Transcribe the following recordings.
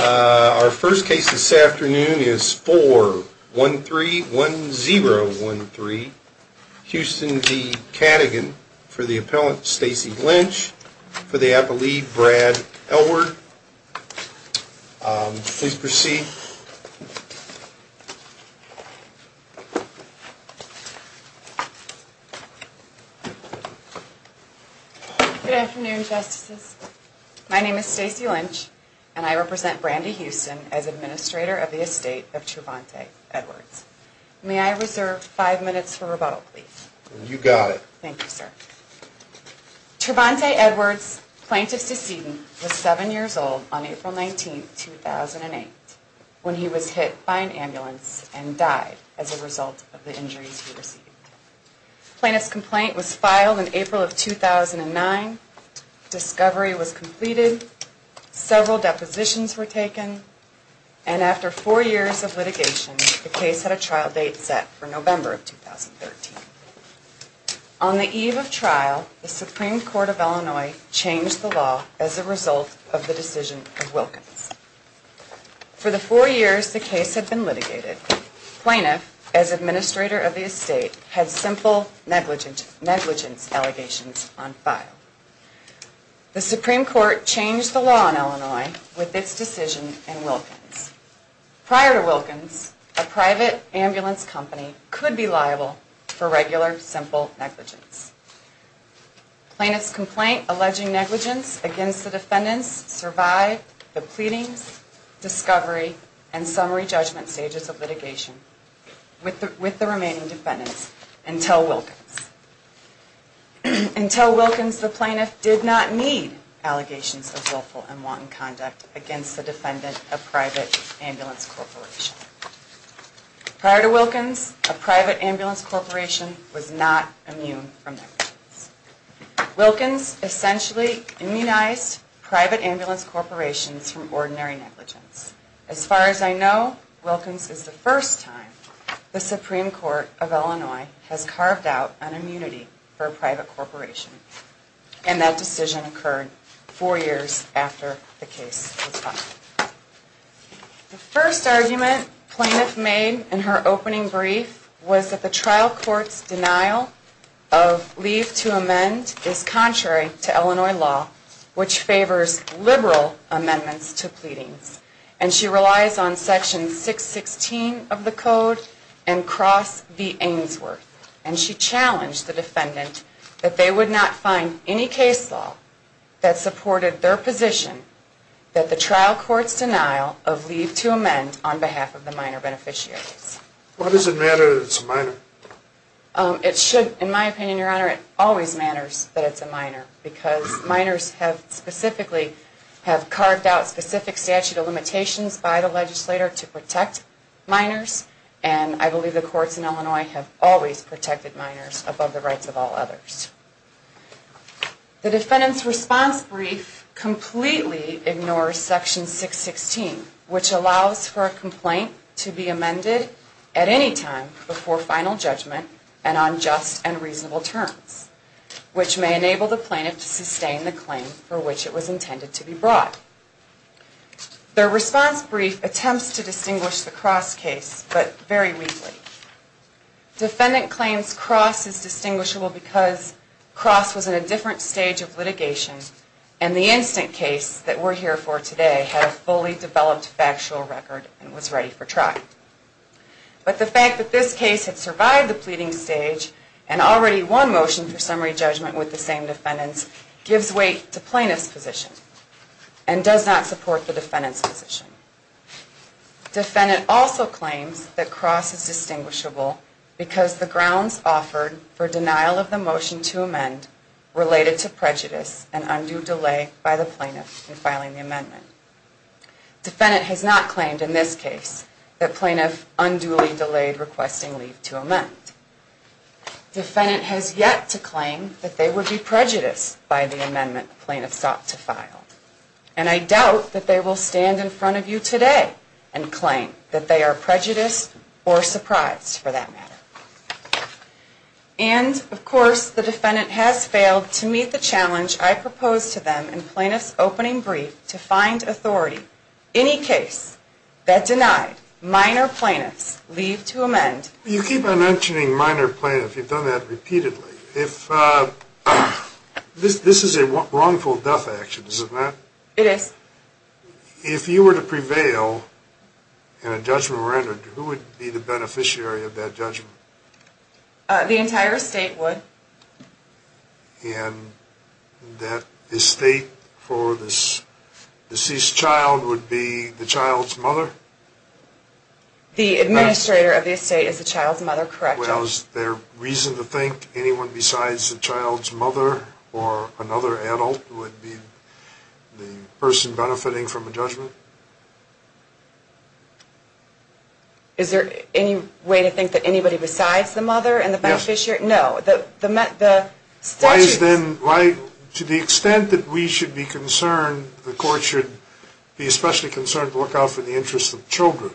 Our first case this afternoon is 4131013 Houston v. Cadigan for the appellant Stacey Lynch for the appellee Brad Elward. Please proceed. Stacey Lynch Good afternoon, Justices. My name is Stacey Lynch and I represent Brandi Houston as Administrator of the Estate of Trevante Edwards. May I reserve five minutes for rebuttal, please? Thank you, sir. Trevante Edwards, Plaintiff's decedent, was 7 years old on April 19, 2008 when he was hit by an ambulance and died as a result of the injuries he received. Plaintiff's complaint was filed in April of 2009, discovery was completed, several depositions were taken, and after four years of litigation, the case had a trial date set for November of 2013. On the eve of trial, the Supreme Court of Illinois changed the law as a result of the decision of Wilkins. For the four years the case had been litigated, Plaintiff, as Administrator of the Estate, had simple negligence allegations on file. The Supreme Court changed the law in Illinois with its decision in Wilkins. Prior to Wilkins, a private ambulance company could be liable for regular simple negligence. Plaintiff's complaint alleging negligence against the defendants survived the pleadings, discovery, and summary judgment stages of litigation with the remaining defendants until Wilkins. Until Wilkins, the Plaintiff did not need allegations of willful and wanton conduct against the defendant of private ambulance corporation. Prior to Wilkins, a private ambulance corporation was not immune from negligence. Wilkins essentially immunized private ambulance corporations from ordinary negligence. As far as I know, Wilkins is the first time the Supreme Court of Illinois has carved out an immunity for a private corporation, and that decision occurred four years after the case was filed. The first argument Plaintiff made in her opening brief was that the trial court's denial of leave to amend is contrary to Illinois law, which favors liberal amendments to pleadings. She challenged the defendant that they would not find any case law that supported their position that the trial court's denial of leave to amend on behalf of the minor beneficiaries. The defendant's response brief completely ignores Section 616, which allows for a complaint to be amended if a minor is found guilty of negligence. The defendant's response brief attempts to distinguish the Cross case, but very weakly. Defendant claims Cross is distinguishable because Cross was in a different stage of litigation and the instant case that we're here for today had a fully developed factual record and was ready for trial. But the fact that this case had survived the pleading stage and already won motion for summary judgment with the same defendants gives weight to Plaintiff's position and does not support the defendant's position. Defendant also claims that Cross is distinguishable because the grounds offered for denial of the motion to amend related to prejudice and undue delay by the plaintiff in filing the amendment. Defendant has not claimed in this case that plaintiff unduly delayed requesting leave to amend. Defendant has yet to claim that they would be prejudiced by the amendment plaintiff sought to file. And I doubt that they will stand in front of you today and claim that they are prejudiced or surprised for that matter. And, of course, the defendant has failed to meet the challenge I proposed to them in Plaintiff's opening brief to find authority. Any case that denied minor plaintiffs leave to amend. You keep on mentioning minor plaintiffs. You've done that repeatedly. This is a wrongful death action, isn't it? It is. If you were to prevail and a judgment were rendered, who would be the beneficiary of that judgment? The entire estate would. And that estate for this deceased child would be the child's mother? The administrator of the estate is the child's mother, correct? Well, is there reason to think anyone besides the child's mother or another adult would be the person benefiting from the judgment? Is there any way to think that anybody besides the mother and the beneficiary? No. Why is then, to the extent that we should be concerned, the court should be especially concerned to look out for the interests of children,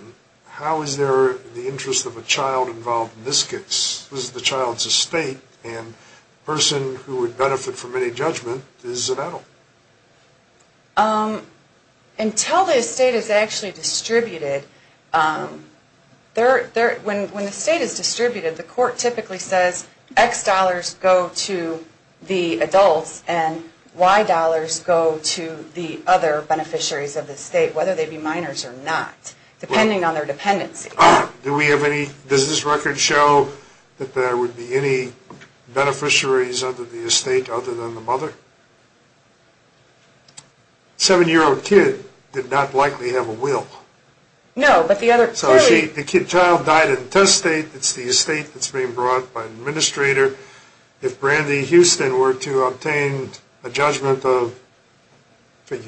how is there the interest of a child involved in this case? This is the child's estate and the person who would benefit from any judgment is an adult. Until the estate is actually distributed, when the estate is distributed, the court typically says X dollars go to the adults and Y dollars go to the other beneficiaries of the estate, whether they be minors or not. Depending on their dependency. Does this record show that there would be any beneficiaries of the estate other than the mother? A seven-year-old kid did not likely have a will. No. So the child died in the test state, it's the estate that's being brought by an administrator. If Brandy Houston were to obtain a judgment of, let's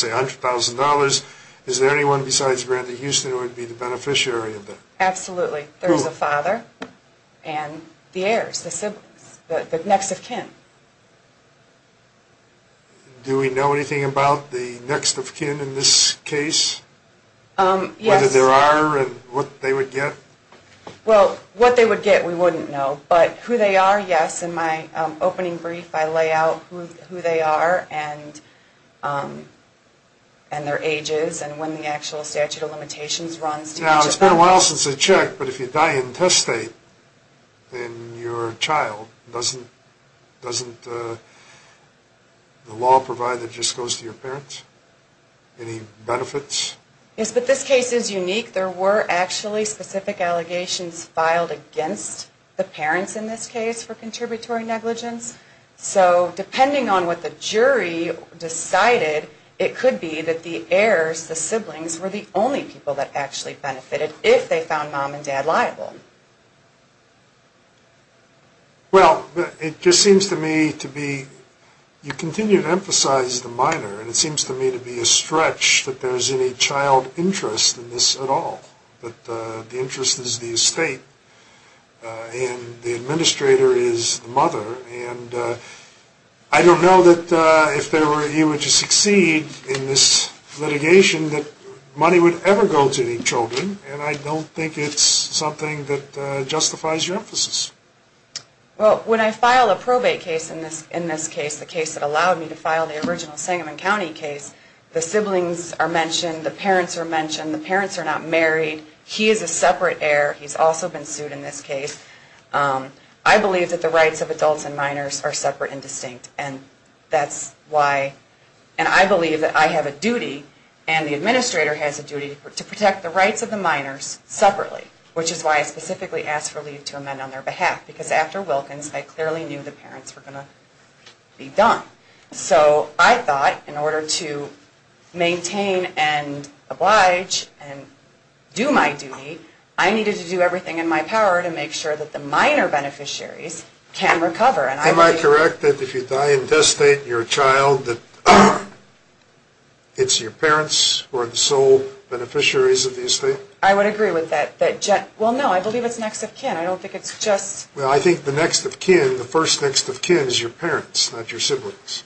say $100,000, is there anyone besides Brandy Houston who would be the beneficiary of that? Absolutely. Who? There's the father and the heirs, the next of kin. Do we know anything about the next of kin in this case? Yes. Whether there are and what they would get? Well, what they would get we wouldn't know, but who they are, yes. In my opening brief, I lay out who they are and their ages and when the actual statute of limitations runs to each of them. Now, it's been a while since I checked, but if you die in test state, then your child doesn't the law provide that it just goes to your parents? Any benefits? Yes, but this case is unique. There were actually specific allegations filed against the parents in this case for contributory negligence. So depending on what the jury decided, it could be that the heirs, the siblings, were the only people that actually benefited if they found mom and dad liable. Well, it just seems to me to be you continue to emphasize the minor, and it seems to me to be a stretch that there's any child interest in this at all, that the interest is the estate and the administrator is the mother, and I don't know that if you were to succeed in this litigation that money would ever go to the children, and I don't think it's something that justifies your emphasis. Well, when I file a probate case in this case, a case that allowed me to file the original Sangamon County case, the siblings are mentioned, the parents are mentioned, the parents are not married. He is a separate heir. He's also been sued in this case. I believe that the rights of adults and minors are separate and distinct, and that's why, and I believe that I have a duty and the administrator has a duty to protect the rights of the minors separately, which is why I specifically asked for leave to amend on their behalf, because after Wilkins I clearly knew the parents were going to be done. So I thought in order to maintain and oblige and do my duty, I needed to do everything in my power to make sure that the minor beneficiaries can recover. Am I correct that if you die in death state and you're a child, that it's your parents who are the sole beneficiaries of the estate? I would agree with that. Well, no, I believe it's next of kin. I don't think it's just. Well, I think the next of kin, the first next of kin is your parents, not your siblings.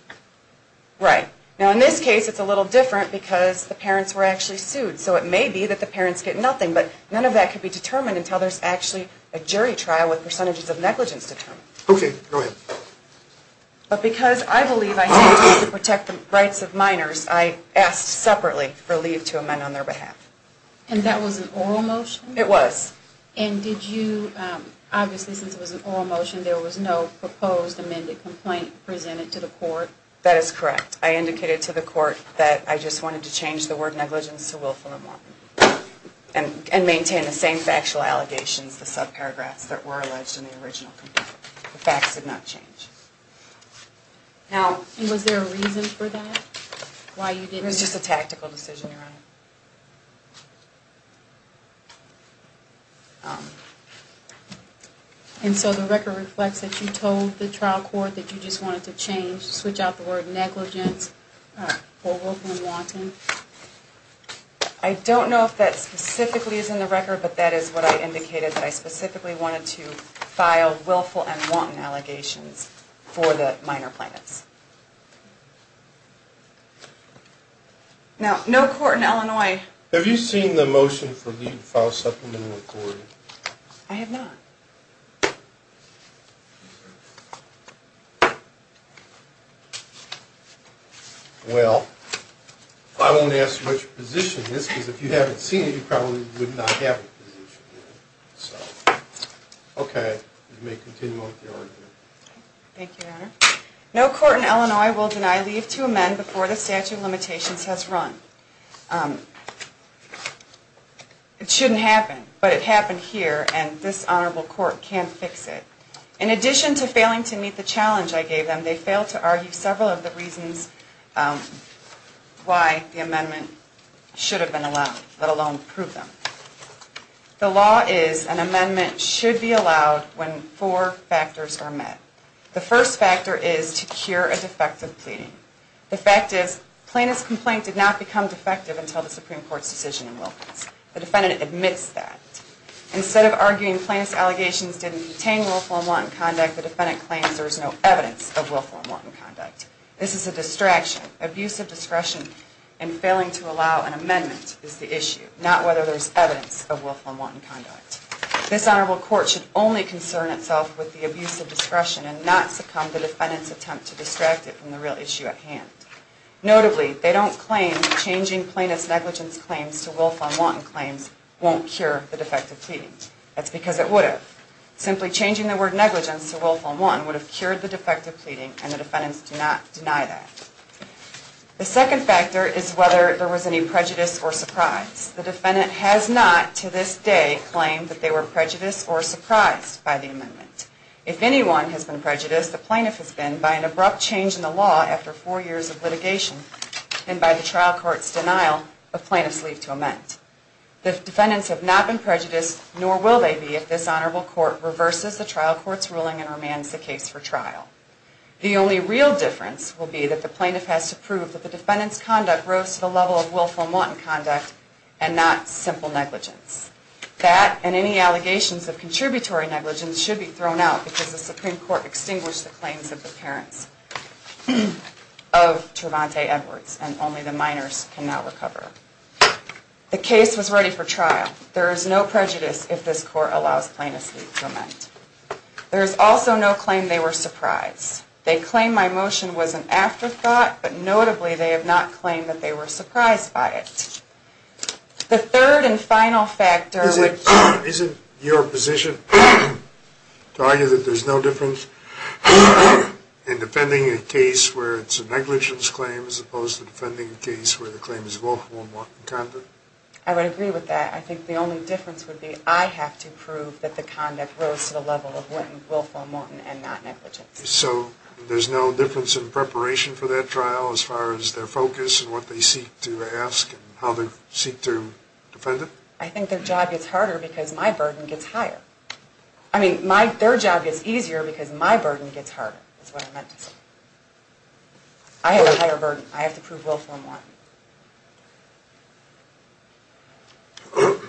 Right. Now in this case it's a little different because the parents were actually sued, so it may be that the parents get nothing, but none of that could be determined until there's actually a jury trial with percentages of negligence determined. Okay, go ahead. But because I believe I have a duty to protect the rights of minors, I asked separately for leave to amend on their behalf. And that was an oral motion? It was. And did you, obviously since it was an oral motion, there was no proposed amended complaint presented to the court? That is correct. I indicated to the court that I just wanted to change the word negligence to willful immorality and maintain the same factual allegations, the subparagraphs, that were alleged in the original complaint. The facts did not change. Now was there a reason for that? It was just a tactical decision, Your Honor. And so the record reflects that you told the trial court that you just wanted to change, switch out the word negligence for willful and wanton? I don't know if that specifically is in the record, but that is what I indicated that I specifically wanted to file willful and wanton allegations for the minor plaintiffs. Now, no court in Illinois. Have you seen the motion for leave to file supplemental authority? I have not. Well, I won't ask what your position is because if you haven't seen it, you probably would not have a position. Okay. You may continue with your argument. Thank you, Your Honor. No court in Illinois will deny leave to amend before the statute of limitations has run. It shouldn't happen, but it happened here and this honorable court can't fix it. In addition to failing to meet the challenge I gave them, they failed to argue several of the reasons why the amendment should have been allowed, let alone prove them. The law is an amendment should be allowed when four factors are met. The first factor is to cure a defective pleading. The fact is plaintiff's complaint did not become defective until the Supreme Court's decision in Wilkins. The defendant admits that. Instead of arguing plaintiff's allegations didn't contain willful and wanton conduct, the defendant claims there is no evidence of willful and wanton conduct. This is a distraction. Abusive discretion in failing to allow an amendment is the issue, not whether there is evidence of willful and wanton conduct. This honorable court should only concern itself with the abuse of discretion and not succumb to the defendant's attempt to distract it from the real issue at hand. Notably, they don't claim changing plaintiff's negligence claims to willful and wanton claims won't cure the defective pleading. That's because it would have. Simply changing the word negligence to willful and wanton would have cured the defective pleading and the defendants do not deny that. The second factor is whether there was any prejudice or surprise. The defendant has not, to this day, claimed that they were prejudiced or surprised by the amendment. If anyone has been prejudiced, the plaintiff has been, by an abrupt change in the law after four years of litigation and by the trial court's denial of plaintiff's leave to amend. The defendants have not been prejudiced, nor will they be, if this honorable court reverses the trial court's ruling and remands the case for trial. The only real difference will be that the plaintiff has to prove that the defendant's conduct rose to the level of willful and wanton conduct and not simple negligence. That and any allegations of contributory negligence should be thrown out because the Supreme Court extinguished the claims of the parents of Tervante Edwards and only the minors can now recover. The case was ready for trial. There is no prejudice if this court allows plaintiff's leave to amend. There is also no claim they were surprised. They claim my motion was an afterthought, but notably they have not claimed that they were surprised by it. The third and final factor would be... Isn't your position to argue that there's no difference in defending a case where it's a negligence claim as opposed to defending a case where the claim is willful and wanton conduct? I would agree with that. I think the only difference would be I have to prove that the conduct rose to the level of willful and wanton and not negligence. So there's no difference in preparation for that trial as far as their focus and what they seek to ask and how they seek to defend it? I think their job gets harder because my burden gets higher. I mean, their job gets easier because my burden gets harder, is what I meant to say. I have a higher burden. I have to prove willful and wanton. Don't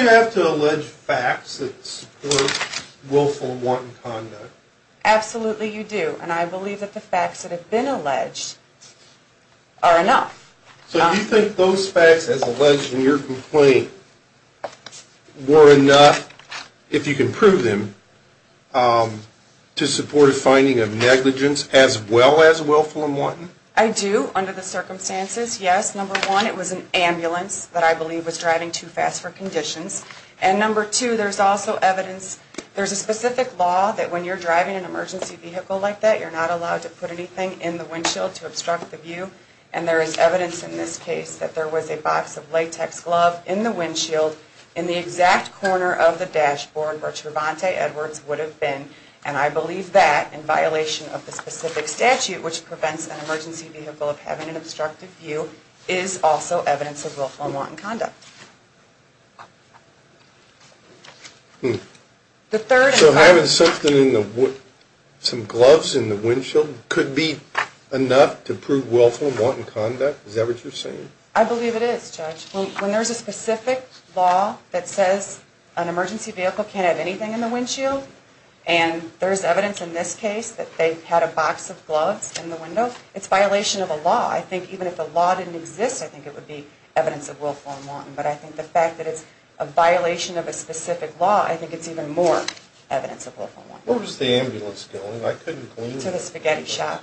you have to allege facts that support willful and wanton conduct? Absolutely, you do. And I believe that the facts that have been alleged are enough. So you think those facts as alleged in your complaint were enough, if you can prove them, to support a finding of negligence as well as willful and wanton? I do, under the circumstances, yes. Number one, it was an ambulance that I believe was driving too fast for conditions. And number two, there's also evidence, there's a specific law that when you're driving an emergency vehicle like that, you're not allowed to put anything in the windshield to obstruct the view. And there is evidence in this case that there was a box of latex glove in the windshield in the exact corner of the dashboard where Trevante Edwards would have been. And I believe that, in violation of the specific statute, which prevents an emergency vehicle of having an obstructed view, is also evidence of willful and wanton conduct. So having some gloves in the windshield could be enough to prove willful and wanton conduct? Is that what you're saying? I believe it is, Judge. When there's a specific law that says an emergency vehicle can't have anything in the windshield, and there's evidence in this case that they had a box of gloves in the window, it's violation of a law. I think even if the law didn't exist, I think it would be evidence of willful and wanton. But I think the fact that it's a violation of a specific law, I think it's even more evidence of willful and wanton. Where was the ambulance going? To the spaghetti shop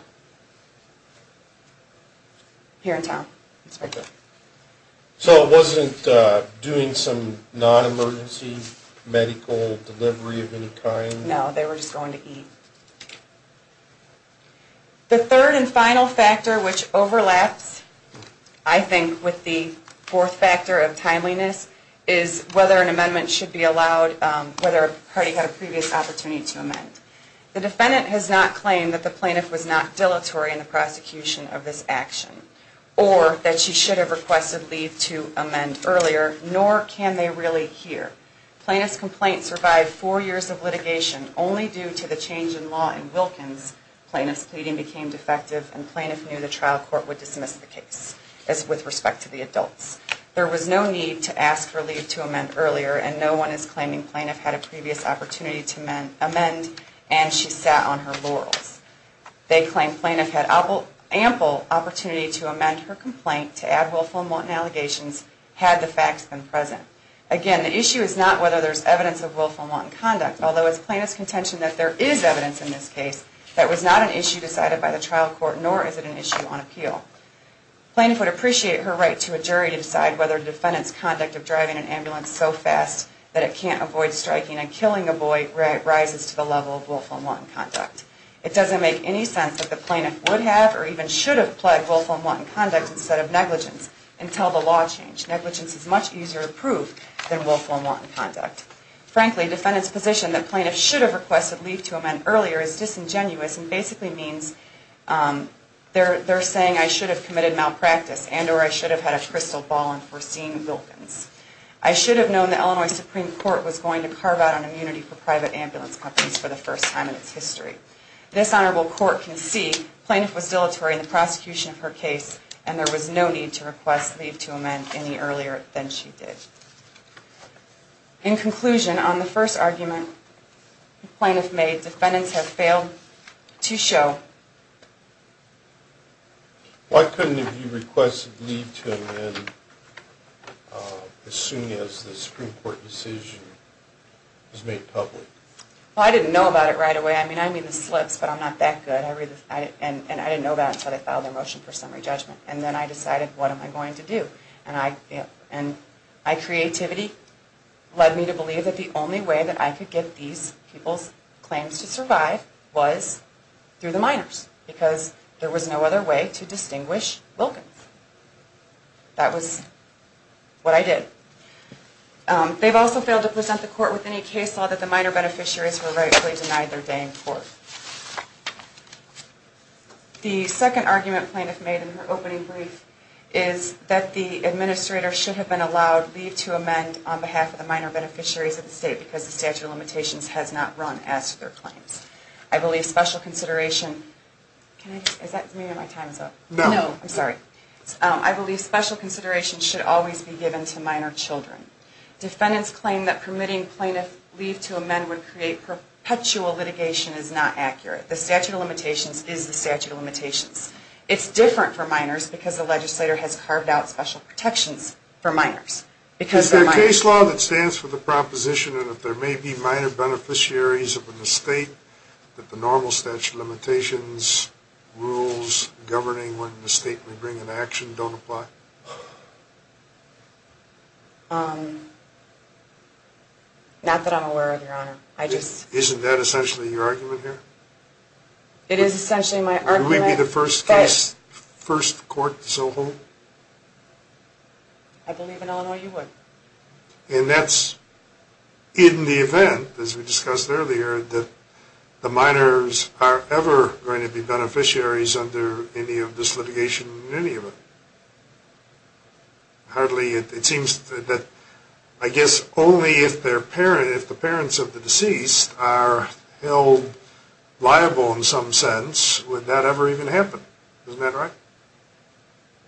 here in town, Inspector. So it wasn't doing some non-emergency medical delivery of any kind? No, they were just going to eat. The third and final factor, which overlaps, I think, with the fourth factor of timeliness, is whether an amendment should be allowed, whether a party had a previous opportunity to amend. The defendant has not claimed that the plaintiff was not dilatory in the prosecution of this action, or that she should have requested leave to amend earlier, nor can they really hear. Plaintiff's complaint survived four years of litigation. Only due to the change in law in Wilkins, plaintiff's pleading became defective, and plaintiff knew the trial court would dismiss the case with respect to the adults. There was no need to ask for leave to amend earlier, and no one is claiming plaintiff had a previous opportunity to amend, and she sat on her laurels. They claim plaintiff had ample opportunity to amend her complaint to add willful and wanton allegations had the facts been present. Again, the issue is not whether there's evidence of willful and wanton conduct, although it's plaintiff's contention that there is evidence in this case that it was not an issue decided by the trial court, nor is it an issue on appeal. Plaintiff would appreciate her right to a jury to decide whether the defendant's conduct of driving an ambulance so fast that it can't avoid striking and killing a boy rises to the level of willful and wanton conduct. It doesn't make any sense that the plaintiff would have or even should have pled willful and wanton conduct instead of negligence until the law changed. Negligence is much easier to prove than willful and wanton conduct. Frankly, defendant's position that plaintiff should have requested leave to amend earlier is disingenuous and basically means they're saying I should have committed malpractice and or I should have had a crystal ball in foreseeing Wilkins. I should have known the Illinois Supreme Court was going to carve out an immunity for private ambulance companies for the first time in its history. This honorable court can see plaintiff was dilatory in the prosecution of her case and there was no need to request leave to amend any earlier than she did. In conclusion, on the first argument the plaintiff made, defendants have failed to show. Why couldn't you request leave to amend as soon as the Supreme Court decision was made public? Well, I didn't know about it right away. I mean, I made the slips, but I'm not that good. And I didn't know about it until they filed their motion for summary judgment. And then I decided what am I going to do? And my creativity led me to believe that the only way that I could get these people's claims to survive was through the minors because there was no other way to distinguish Wilkins. That was what I did. They've also failed to present the court with any case law that the minor beneficiaries were rightfully denied their day in court. The second argument plaintiff made in her opening brief is that the administrator should have been allowed leave to amend on behalf of the minor beneficiaries of the state because the statute of limitations has not run as to their claims. I believe special consideration should always be given to minor children. Defendants claim that permitting plaintiff leave to amend would create perpetual litigation is not accurate. The statute of limitations is the statute of limitations. It's different for minors because the legislator has carved out special protections for minors. Is there a case law that stands for the proposition that if there may be minor beneficiaries of a mistake that the normal statute of limitations rules governing when a mistake may bring an action don't apply? Not that I'm aware of, Your Honor. Isn't that essentially your argument here? It is essentially my argument. Would we be the first court to so hold? I believe in Illinois you would. And that's in the event, as we discussed earlier, that the minors are ever going to be beneficiaries under any of this litigation in any of them. Hardly. It seems that I guess only if the parents of the deceased are held liable in some sense would that ever even happen. Isn't that right?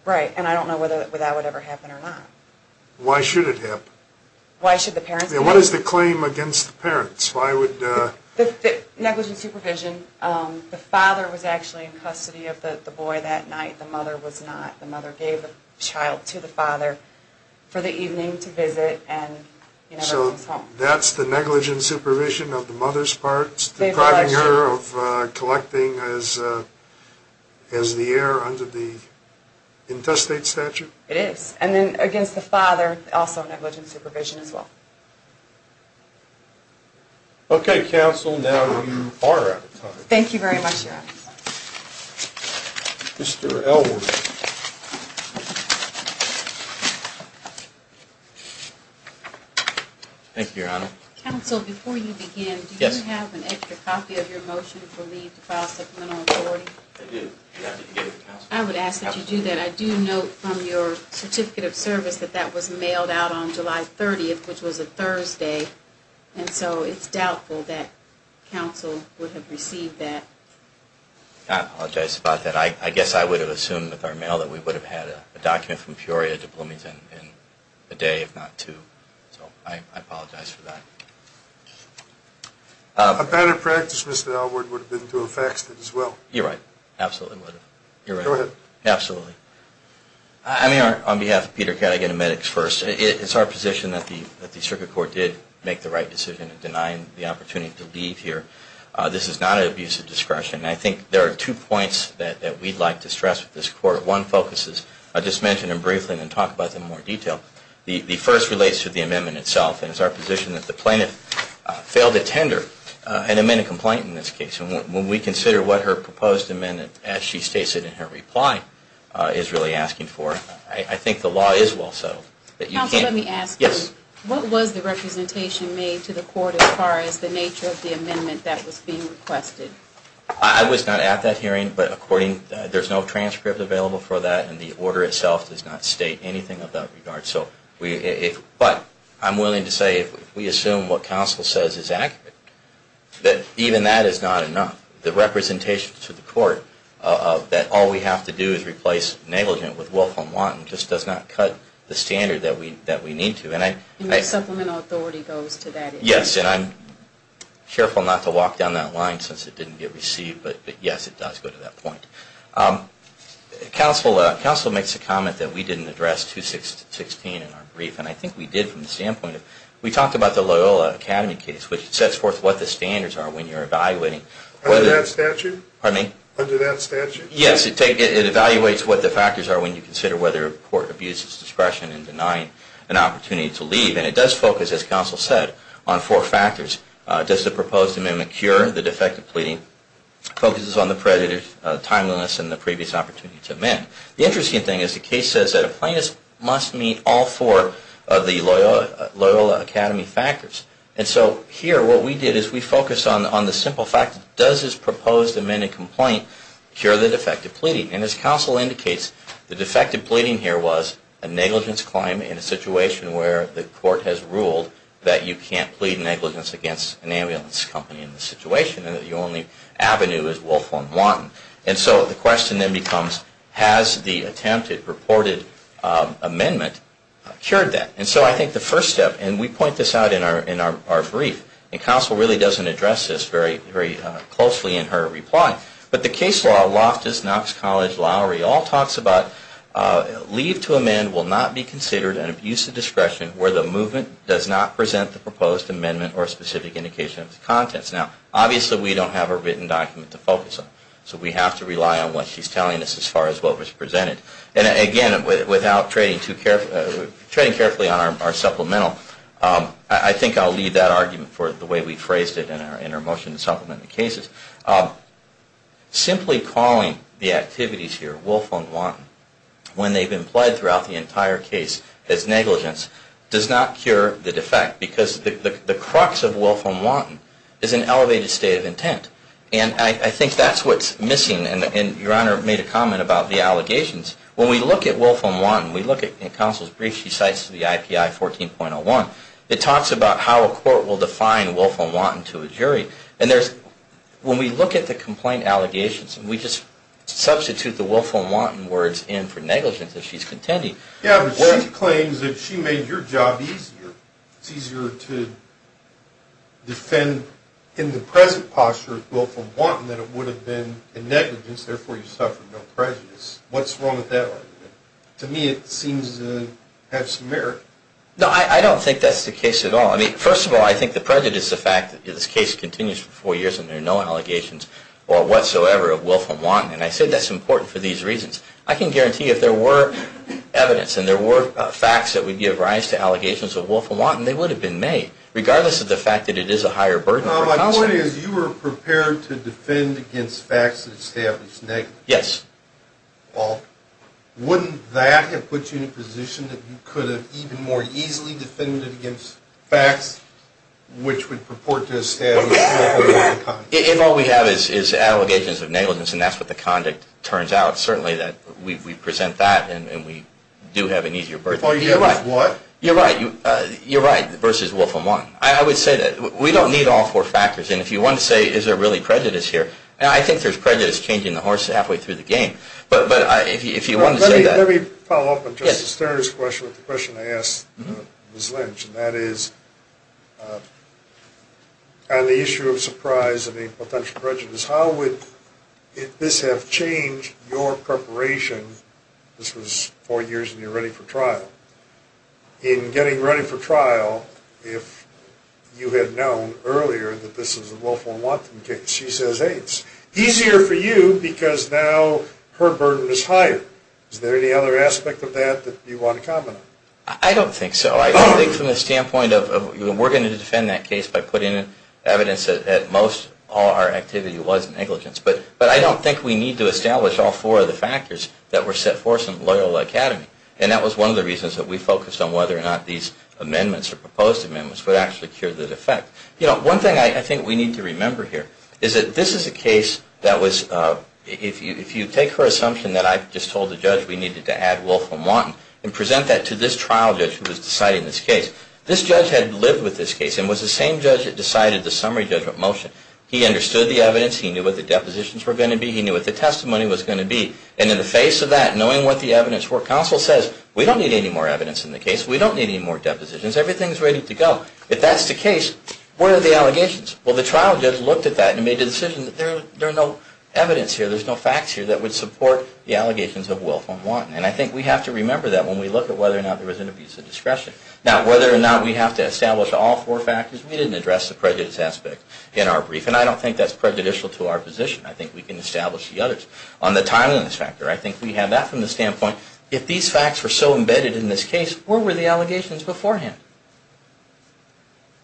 Right. And I don't know whether that would ever happen or not. Why should it happen? Why should the parents be held liable? What is the claim against the parents? Negligent supervision. The father was actually in custody of the boy that night. The mother was not. The mother gave the child to the father for the evening to visit and he never comes home. So that's the negligent supervision of the mother's part, depriving her of collecting as the heir under the intestate statute? It is. And then against the father, also negligent supervision as well. Okay, counsel, now you are out of time. Thank you very much, Your Honor. Mr. Elwood. Thank you, Your Honor. Counsel, before you begin, do you have an extra copy of your motion for leave to file supplemental authority? I do. I would ask that you do that. I do note from your certificate of service that that was mailed out on July 30th, which was a Thursday. And so it's doubtful that counsel would have received that. I apologize about that. I guess I would have assumed with our mail that we would have had a document from Peoria to Bloomington in a day if not two. So I apologize for that. A better practice, Mr. Elwood, would have been to have faxed it as well. You're right. Absolutely would have. You're right. Go ahead. Absolutely. On behalf of Peter Catt, I get to medics first. It's our position that the circuit court did make the right decision in denying the opportunity to leave here. This is not an abuse of discretion. I think there are two points that we'd like to stress with this court. One focuses, I'll just mention them briefly and then talk about them in more detail. The first relates to the amendment itself. And it's our position that the plaintiff failed to tender an amended complaint in this case. And when we consider what her proposed amendment, as she states it in her reply, is really asking for, I think the law is well settled. Counsel, let me ask you. Yes. What was the representation made to the court as far as the nature of the amendment that was being requested? I was not at that hearing. There's no transcript available for that. And the order itself does not state anything of that regard. But I'm willing to say if we assume what counsel says is accurate, that even that is not enough. The representation to the court that all we have to do is replace negligent with willful and wanton just does not cut the standard that we need to. And the supplemental authority goes to that issue. Yes. And I'm careful not to walk down that line since it didn't get received. But yes, it does go to that point. Counsel makes a comment that we didn't address 216 in our brief. And I think we did from the standpoint of we talked about the Loyola Academy case, which sets forth what the standards are when you're evaluating. Under that statute? Pardon me? Under that statute? Yes. It evaluates what the factors are when you consider whether a court abuses discretion in denying an opportunity to leave. And it does focus, as counsel said, on four factors. Does the proposed amendment cure the defective pleading? It focuses on the prejudice, timeliness, and the previous opportunity to amend. The interesting thing is the case says that a plaintiff must meet all four of the Loyola Academy factors. And so here what we did is we focused on the simple fact, does this proposed amended complaint cure the defective pleading? And as counsel indicates, the defective pleading here was a negligence claim in a situation where the court has ruled that you can't plead negligence against an ambulance company in this situation and that the only avenue is Wolfhorn One. And so the question then becomes, has the attempted, purported amendment cured that? And so I think the first step, and we point this out in our brief, and counsel really doesn't address this very closely in her reply, but the case law, Loftus, Knox College, Lowry, all talks about leave to amend will not be considered an abuse of discretion where the movement does not present the proposed amendment or specific indication of the contents. Now, obviously we don't have a written document to focus on. So we have to rely on what she's telling us as far as what was presented. And again, without trading carefully on our supplemental, I think I'll leave that argument for the way we phrased it in our motion to supplement the cases. Simply calling the activities here, Wolfhorn One, when they've been pled throughout the entire case as negligence, does not cure the defect. Because the crux of Wolfhorn One is an elevated state of intent. And I think that's what's missing. And Your Honor made a comment about the allegations. When we look at Wolfhorn One, we look at counsel's brief, she cites the IPI 14.01. It talks about how a court will define Wolfhorn One to a jury. And when we look at the complaint allegations and we just substitute the Wolfhorn One words in for negligence as she's contending. Yeah, but she claims that she made your job easier. It's easier to defend in the present posture of Wolfhorn One than it would have been in negligence. Therefore, you suffered no prejudice. What's wrong with that argument? To me, it seems to have some merit. No, I don't think that's the case at all. First of all, I think the prejudice is the fact that this case continues for four years and there are no allegations whatsoever of Wolfhorn One. And I say that's important for these reasons. I can guarantee you if there were evidence and there were facts that would give rise to allegations of Wolfhorn One, they would have been made. Regardless of the fact that it is a higher burden for counsel. My point is you were prepared to defend against facts that established negligence. Yes. Well, wouldn't that have put you in a position that you could have even more easily defended against facts which would purport to establish negligence? If all we have is allegations of negligence and that's what the conduct turns out, certainly we present that and we do have an easier burden. If all you have is what? You're right. You're right. Versus Wolfhorn One. I would say that we don't need all four factors. And if you want to say is there really prejudice here? I think there's prejudice changing the horse halfway through the game. But if you want to say that. Let me follow up on Justice Sterner's question with the question I asked Ms. Lynch. And that is on the issue of surprise and a potential prejudice, how would this have changed your preparation? This was four years and you're ready for trial. In getting ready for trial if you had known earlier that this was a Wolfhorn One case. She says it's easier for you because now her burden is higher. Is there any other aspect of that that you want to comment on? I don't think so. I think from the standpoint of we're going to defend that case by putting evidence that most all our activity was negligence. But I don't think we need to establish all four of the factors that were set forth in Loyola Academy. And that was one of the reasons that we focused on whether or not these amendments or proposed amendments would actually cure the defect. One thing I think we need to remember here is that this is a case that was if you take her assumption that I just told the judge we needed to add Wolfhorn One. And present that to this trial judge who was deciding this case. This judge had lived with this case and was the same judge that decided the summary judgment motion. He understood the evidence. He knew what the depositions were going to be. He knew what the testimony was going to be. And in the face of that, knowing what the evidence were, counsel says we don't need any more evidence in the case. We don't need any more depositions. Everything's ready to go. If that's the case, where are the allegations? Well, the trial judge looked at that and made the decision that there are no evidence here. There's no facts here that would support the allegations of Wolfhorn One. And I think we have to remember that when we look at whether or not there was an abuse of discretion. Now, whether or not we have to establish all four factors, we didn't address the prejudice aspect in our brief. And I don't think that's prejudicial to our position. I think we can establish the others. On the timeliness factor, I think we have that from the standpoint. If these facts were so embedded in this case, where were the allegations beforehand?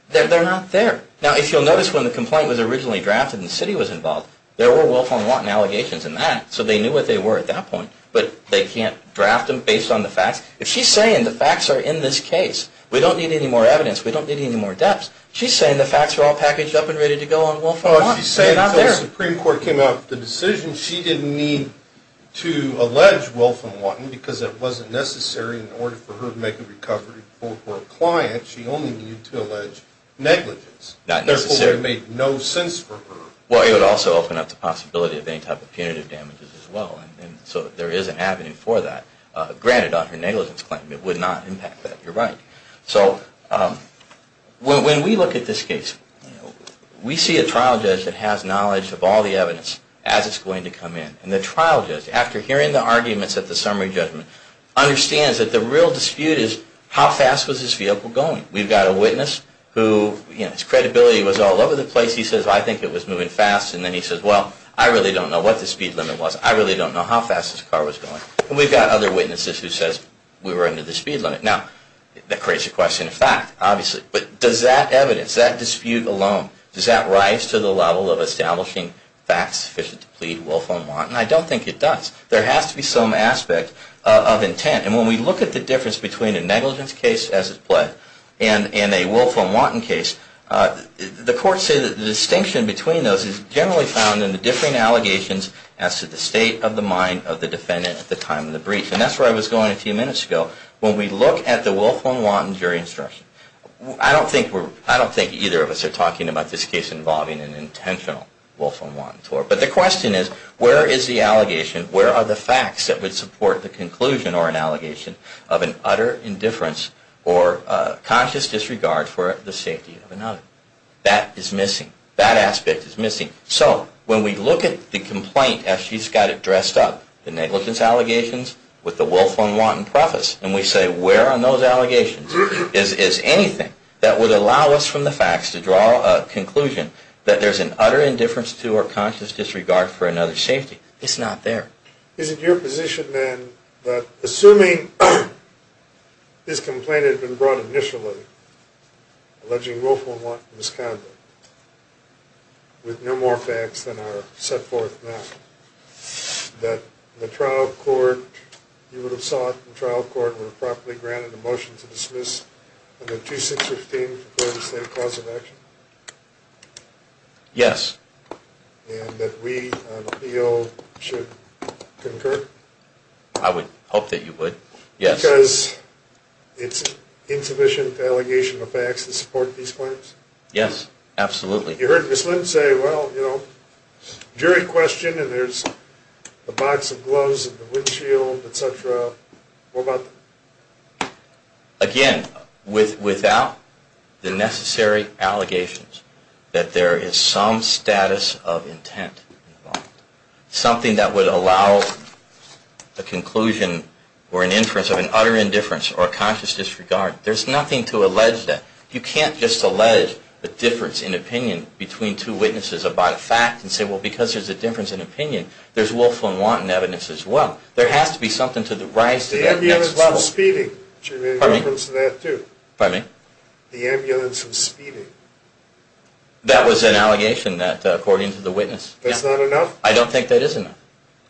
They're not there. Now, if you'll notice, when the complaint was originally drafted and the city was involved, there were Wolfhorn One allegations in that, so they knew what they were at that point. But they can't draft them based on the facts. If she's saying the facts are in this case, we don't need any more evidence, we don't need any more depths, she's saying the facts are all packaged up and ready to go on Wolfhorn One. She's saying it's not there. When the Supreme Court came out with the decision, she didn't need to allege Wolfhorn One because it wasn't necessary in order for her to make a recovery for her client. She only needed to allege negligence. Therefore, it made no sense for her. Well, it would also open up the possibility of any type of punitive damages as well. And so there is an avenue for that. Granted, on her negligence claim, it would not impact that. You're right. So when we look at this case, we see a trial judge that has knowledge of all the evidence as it's going to come in. And the trial judge, after hearing the arguments at the summary judgment, understands that the real dispute is how fast was this vehicle going. We've got a witness whose credibility was all over the place. He says, I think it was moving fast. And then he says, well, I really don't know what the speed limit was. I really don't know how fast this car was going. And we've got other witnesses who says we were under the speed limit. Now, that creates a question of fact, obviously. But does that evidence, that dispute alone, does that rise to the level of establishing facts sufficient to plead willful and wanton? I don't think it does. There has to be some aspect of intent. And when we look at the difference between a negligence case as it's pled and a willful and wanton case, the courts say that the distinction between those is generally found in the differing allegations as to the state of the mind of the defendant at the time of the breach. And that's where I was going a few minutes ago. When we look at the willful and wanton jury instruction, I don't think either of us are talking about this case involving an intentional willful and wanton tort. But the question is, where is the allegation? Where are the facts that would support the conclusion or an allegation of an utter indifference or conscious disregard for the safety of another? That is missing. That aspect is missing. So when we look at the complaint as she's got it dressed up, the negligence allegations with the willful and wanton preface, and we say, where are those allegations? Is anything that would allow us from the facts to draw a conclusion that there's an utter indifference to or conscious disregard for another's safety? It's not there. Is it your position, then, that assuming this complaint had been brought initially, alleging willful and wanton misconduct, with no more facts than are set forth now, that the trial court, you would have sought, the trial court would have properly granted a motion to dismiss amendment 2615 for the state of cause of action? Yes. And that we, on appeal, should concur? I would hope that you would, yes. Because it's insufficient allegation of facts to support these claims? Yes, absolutely. You heard Ms. Lynn say, well, you know, jury question, and there's a box of gloves and a windshield, et cetera. Again, without the necessary allegations that there is some status of intent involved, something that would allow a conclusion or an inference of an utter indifference or a conscious disregard, there's nothing to allege that. You can't just allege a difference in opinion between two witnesses about a fact and say, well, because there's a difference in opinion, there's willful and wanton evidence as well. There has to be something to rise to that next level. The ambulance was speeding. Pardon me? Do you have any reference to that, too? Pardon me? The ambulance was speeding. That was an allegation that, according to the witness. That's not enough? I don't think that is enough.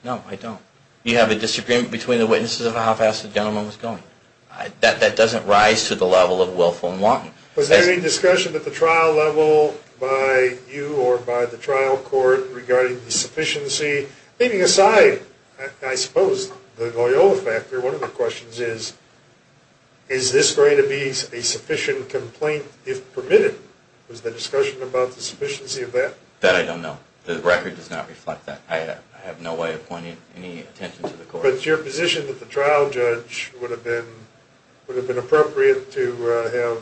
No, I don't. You have a disagreement between the witnesses about how fast the gentleman was going. That doesn't rise to the level of willful and wanton. Was there any discussion at the trial level by you or by the trial court regarding the sufficiency? Leaving aside, I suppose, the Loyola factor, one of the questions is, is this going to be a sufficient complaint if permitted? Was there discussion about the sufficiency of that? That I don't know. The record does not reflect that. Mr. Roberts, your position that the trial judge would have been appropriate to have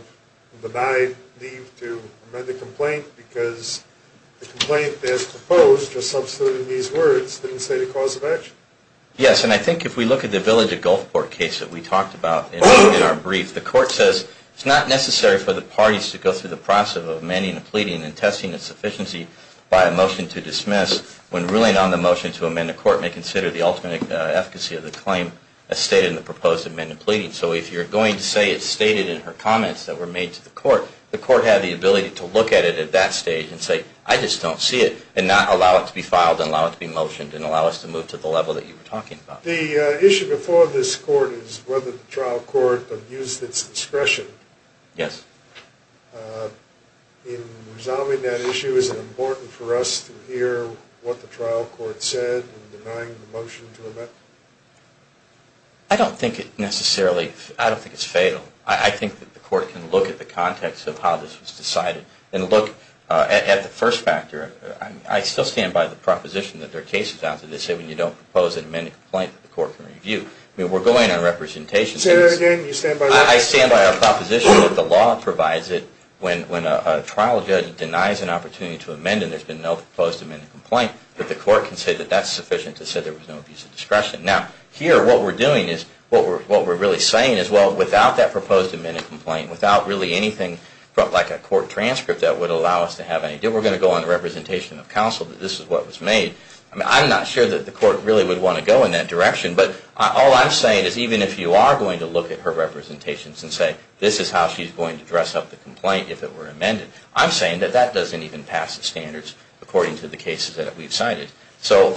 denied leave to amend the complaint because the complaint as proposed, just substituting these words, didn't say the cause of action. Yes, and I think if we look at the Village of Gulfport case that we talked about in our brief, the court says, it's not necessary for the parties to go through the process of amending a pleading and testing its sufficiency by a motion to dismiss when ruling on the motion to amend a court may consider the ultimate efficacy of the claim as stated in the proposed amendment pleading. So if you're going to say it's stated in her comments that were made to the court, the court had the ability to look at it at that stage and say, I just don't see it, and not allow it to be filed and allow it to be motioned and allow us to move to the level that you were talking about. The issue before this court is whether the trial court abused its discretion. Yes. In resolving that issue, is it important for us to hear what the trial court said in denying the motion to amend? I don't think it necessarily, I don't think it's fatal. I think that the court can look at the context of how this was decided and look at the first factor. I still stand by the proposition that there are cases out there that say when you don't propose an amended complaint that the court can review. I mean, we're going on representation. Say that again. I stand by our proposition that the law provides it when a trial judge denies an opportunity to amend and there's been no proposed amended complaint, that the court can say that that's sufficient to say there was no abuse of discretion. Now, here what we're doing is, what we're really saying is, well, without that proposed amended complaint, without really anything like a court transcript that would allow us to have any, we're going to go on representation of counsel that this is what was made. I'm not sure that the court really would want to go in that direction, but all I'm saying is even if you are going to look at her representations and say, this is how she's going to dress up the complaint if it were amended, I'm saying that that doesn't even pass the standards according to the cases that we've cited. So,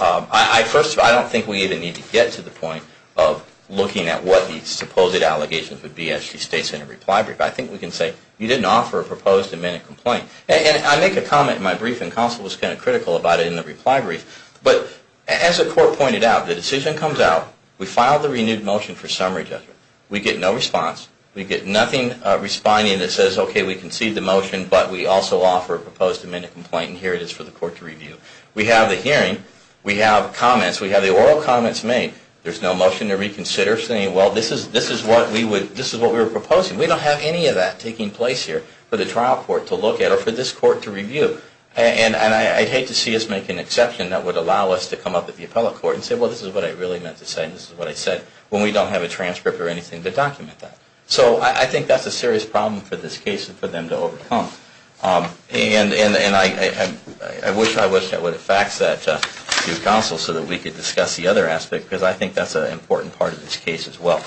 first of all, I don't think we even need to get to the point of looking at what the supposed allegations would be as she states in a reply brief. I think we can say, you didn't offer a proposed amended complaint. And I make a comment in my briefing, counsel was kind of critical about it in the reply brief, but as the court pointed out, the decision comes out. We file the renewed motion for summary judgment. We get no response. We get nothing responding that says, OK, we concede the motion, but we also offer a proposed amended complaint, and here it is for the court to review. We have the hearing. We have comments. We have the oral comments made. There's no motion to reconsider saying, well, this is what we were proposing. We don't have any of that taking place here for the trial court to look at or for this court to review. And I'd hate to see us make an exception that would allow us to come up at the appellate court and say, well, this is what I really meant to say, and this is what I said, when we don't have a transcript or anything to document that. So I think that's a serious problem for this case and for them to overcome. And I wish I would have faxed that to counsel so that we could discuss the other aspect, because I think that's an important part of this case as well.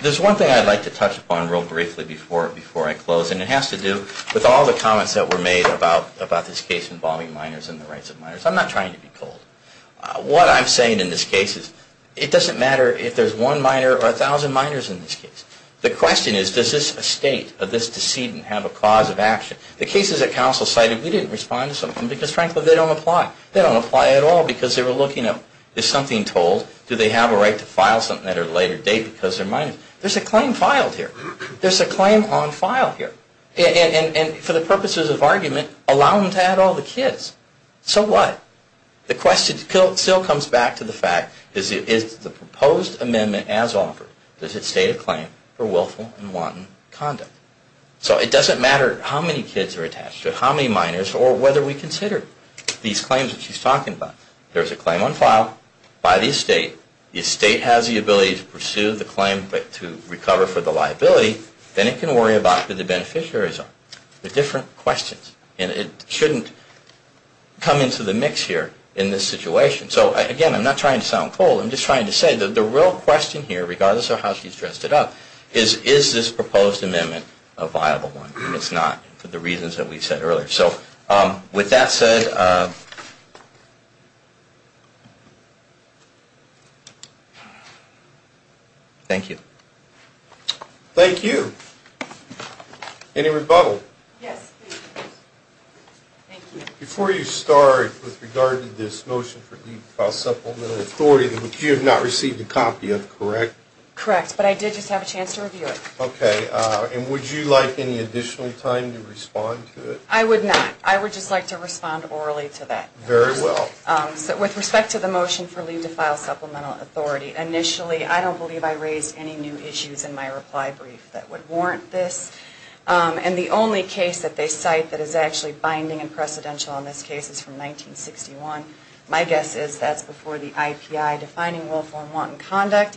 There's one thing I'd like to touch upon real briefly before I close, and it has to do with all the comments that were made about this case involving minors and the rights of minors. I'm not trying to be cold. What I'm saying in this case is it doesn't matter if there's one minor or 1,000 minors in this case. The question is, does this estate of this decedent have a cause of action? The cases that counsel cited, we didn't respond to some of them because, frankly, they don't apply. They don't apply at all because they were looking at, is something told? Do they have a right to file something at a later date because they're minors? There's a claim filed here. There's a claim on file here. And for the purposes of argument, allow them to add all the kids. So what? The question still comes back to the fact, is the proposed amendment as offered, does it state a claim for willful and wanton conduct? So it doesn't matter how many kids are attached to it, how many minors, or whether we consider these claims that she's talking about. There's a claim on file by the estate. If the estate has the ability to pursue the claim but to recover for the liability, then it can worry about the beneficiary's own. They're different questions. And it shouldn't come into the mix here in this situation. So, again, I'm not trying to sound cold. I'm just trying to say that the real question here, regardless of how she's dressed it up, is, is this proposed amendment a viable one? And it's not, for the reasons that we said earlier. So with that said, thank you. Thank you. Any rebuttal? Yes, please. Thank you. Before you start, with regard to this motion for the file supplemental authority, you have not received a copy of it, correct? Correct. But I did just have a chance to review it. Okay. And would you like any additional time to respond to it? I would not. I would just like to respond orally to that. Very well. With respect to the motion for leave to file supplemental authority, initially I don't believe I raised any new issues in my reply brief that would warrant this. And the only case that they cite that is actually binding and precedential on this case is from 1961. My guess is that's before the IPI defining willful and wanton conduct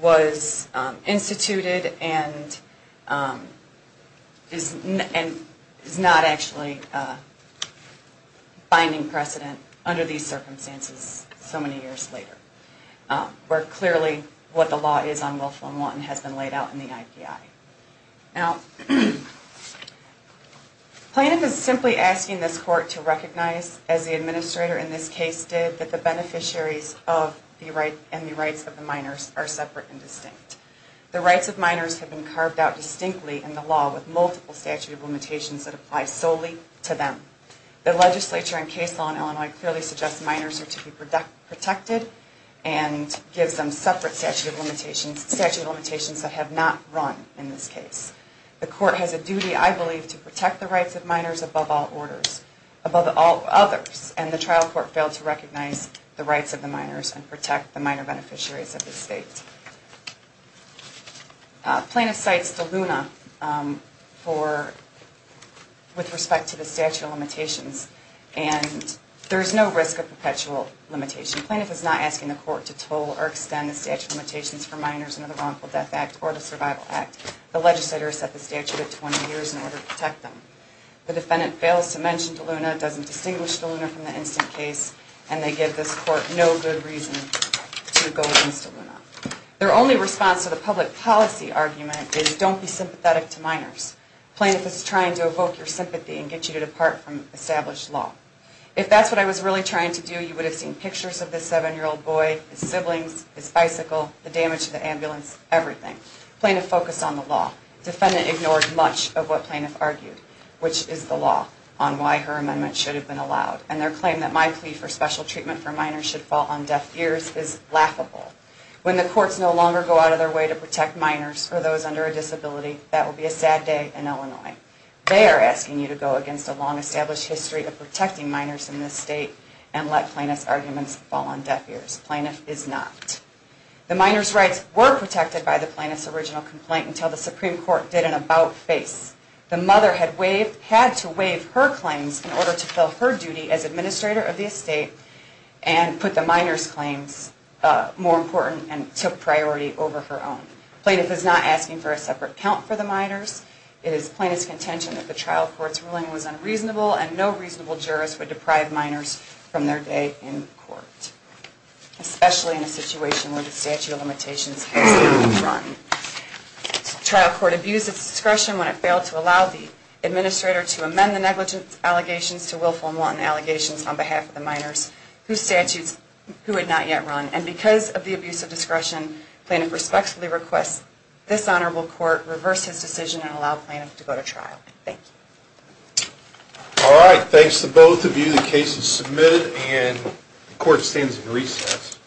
was instituted and is not actually binding precedent under these circumstances so many years later, where clearly what the law is on willful and wanton has been laid out in the IPI. Now, Planoff is simply asking this court to recognize, as the administrator in this case did, that the beneficiaries and the rights of the minors are separate and distinct. The rights of minors have been carved out distinctly in the law with multiple statute of limitations that apply solely to them. The legislature and case law in Illinois clearly suggests minors are to be protected and gives them separate statute of limitations that have not run in this case. The court has a duty, I believe, to protect the rights of minors above all others, and the trial court failed to recognize the rights of the minors and protect the minor beneficiaries of this state. Planoff cites DeLuna with respect to the statute of limitations, and there is no risk of perpetual limitation. Planoff is not asking the court to toll or extend the statute of limitations for minors under the Wrongful Death Act or the Survival Act. The legislature has set the statute at 20 years in order to protect them. The defendant fails to mention DeLuna, doesn't distinguish DeLuna from the instant case, and they give this court no good reason to go against DeLuna. Their only response to the public policy argument is don't be sympathetic to minors. Planoff is trying to evoke your sympathy and get you to depart from established law. If that's what I was really trying to do, you would have seen pictures of this 7-year-old boy, his siblings, his bicycle, the damage to the ambulance, everything. Planoff focused on the law. The defendant ignored much of what Planoff argued, which is the law on why her amendment should have been allowed, and their claim that my plea for special treatment for minors should fall on deaf ears is laughable. When the courts no longer go out of their way to protect minors or those under a disability, that will be a sad day in Illinois. They are asking you to go against a long established history of protecting minors in this state and let Planoff's arguments fall on deaf ears. Planoff is not. The minor's rights were protected by the Planoff's original complaint until the Supreme Court did an about-face. The mother had to waive her claims in order to fill her duty as administrator of the estate and put the minor's claims more important and took priority over her own. Planoff is not asking for a separate count for the minors. It is Planoff's contention that the trial court's ruling was unreasonable and no reasonable jurist would deprive minors from their day in court, especially in a situation where the statute of limitations has not yet run. The trial court abused its discretion when it failed to allow the administrator to amend the negligence allegations to willful and wanton allegations on behalf of the minors whose statutes it had not yet run. And because of the abuse of discretion Planoff respectfully requests this honorable court reverse his decision and allow Planoff to go to trial. Thank you. All right. Thanks to both of you. The case is submitted and the court stands at recess.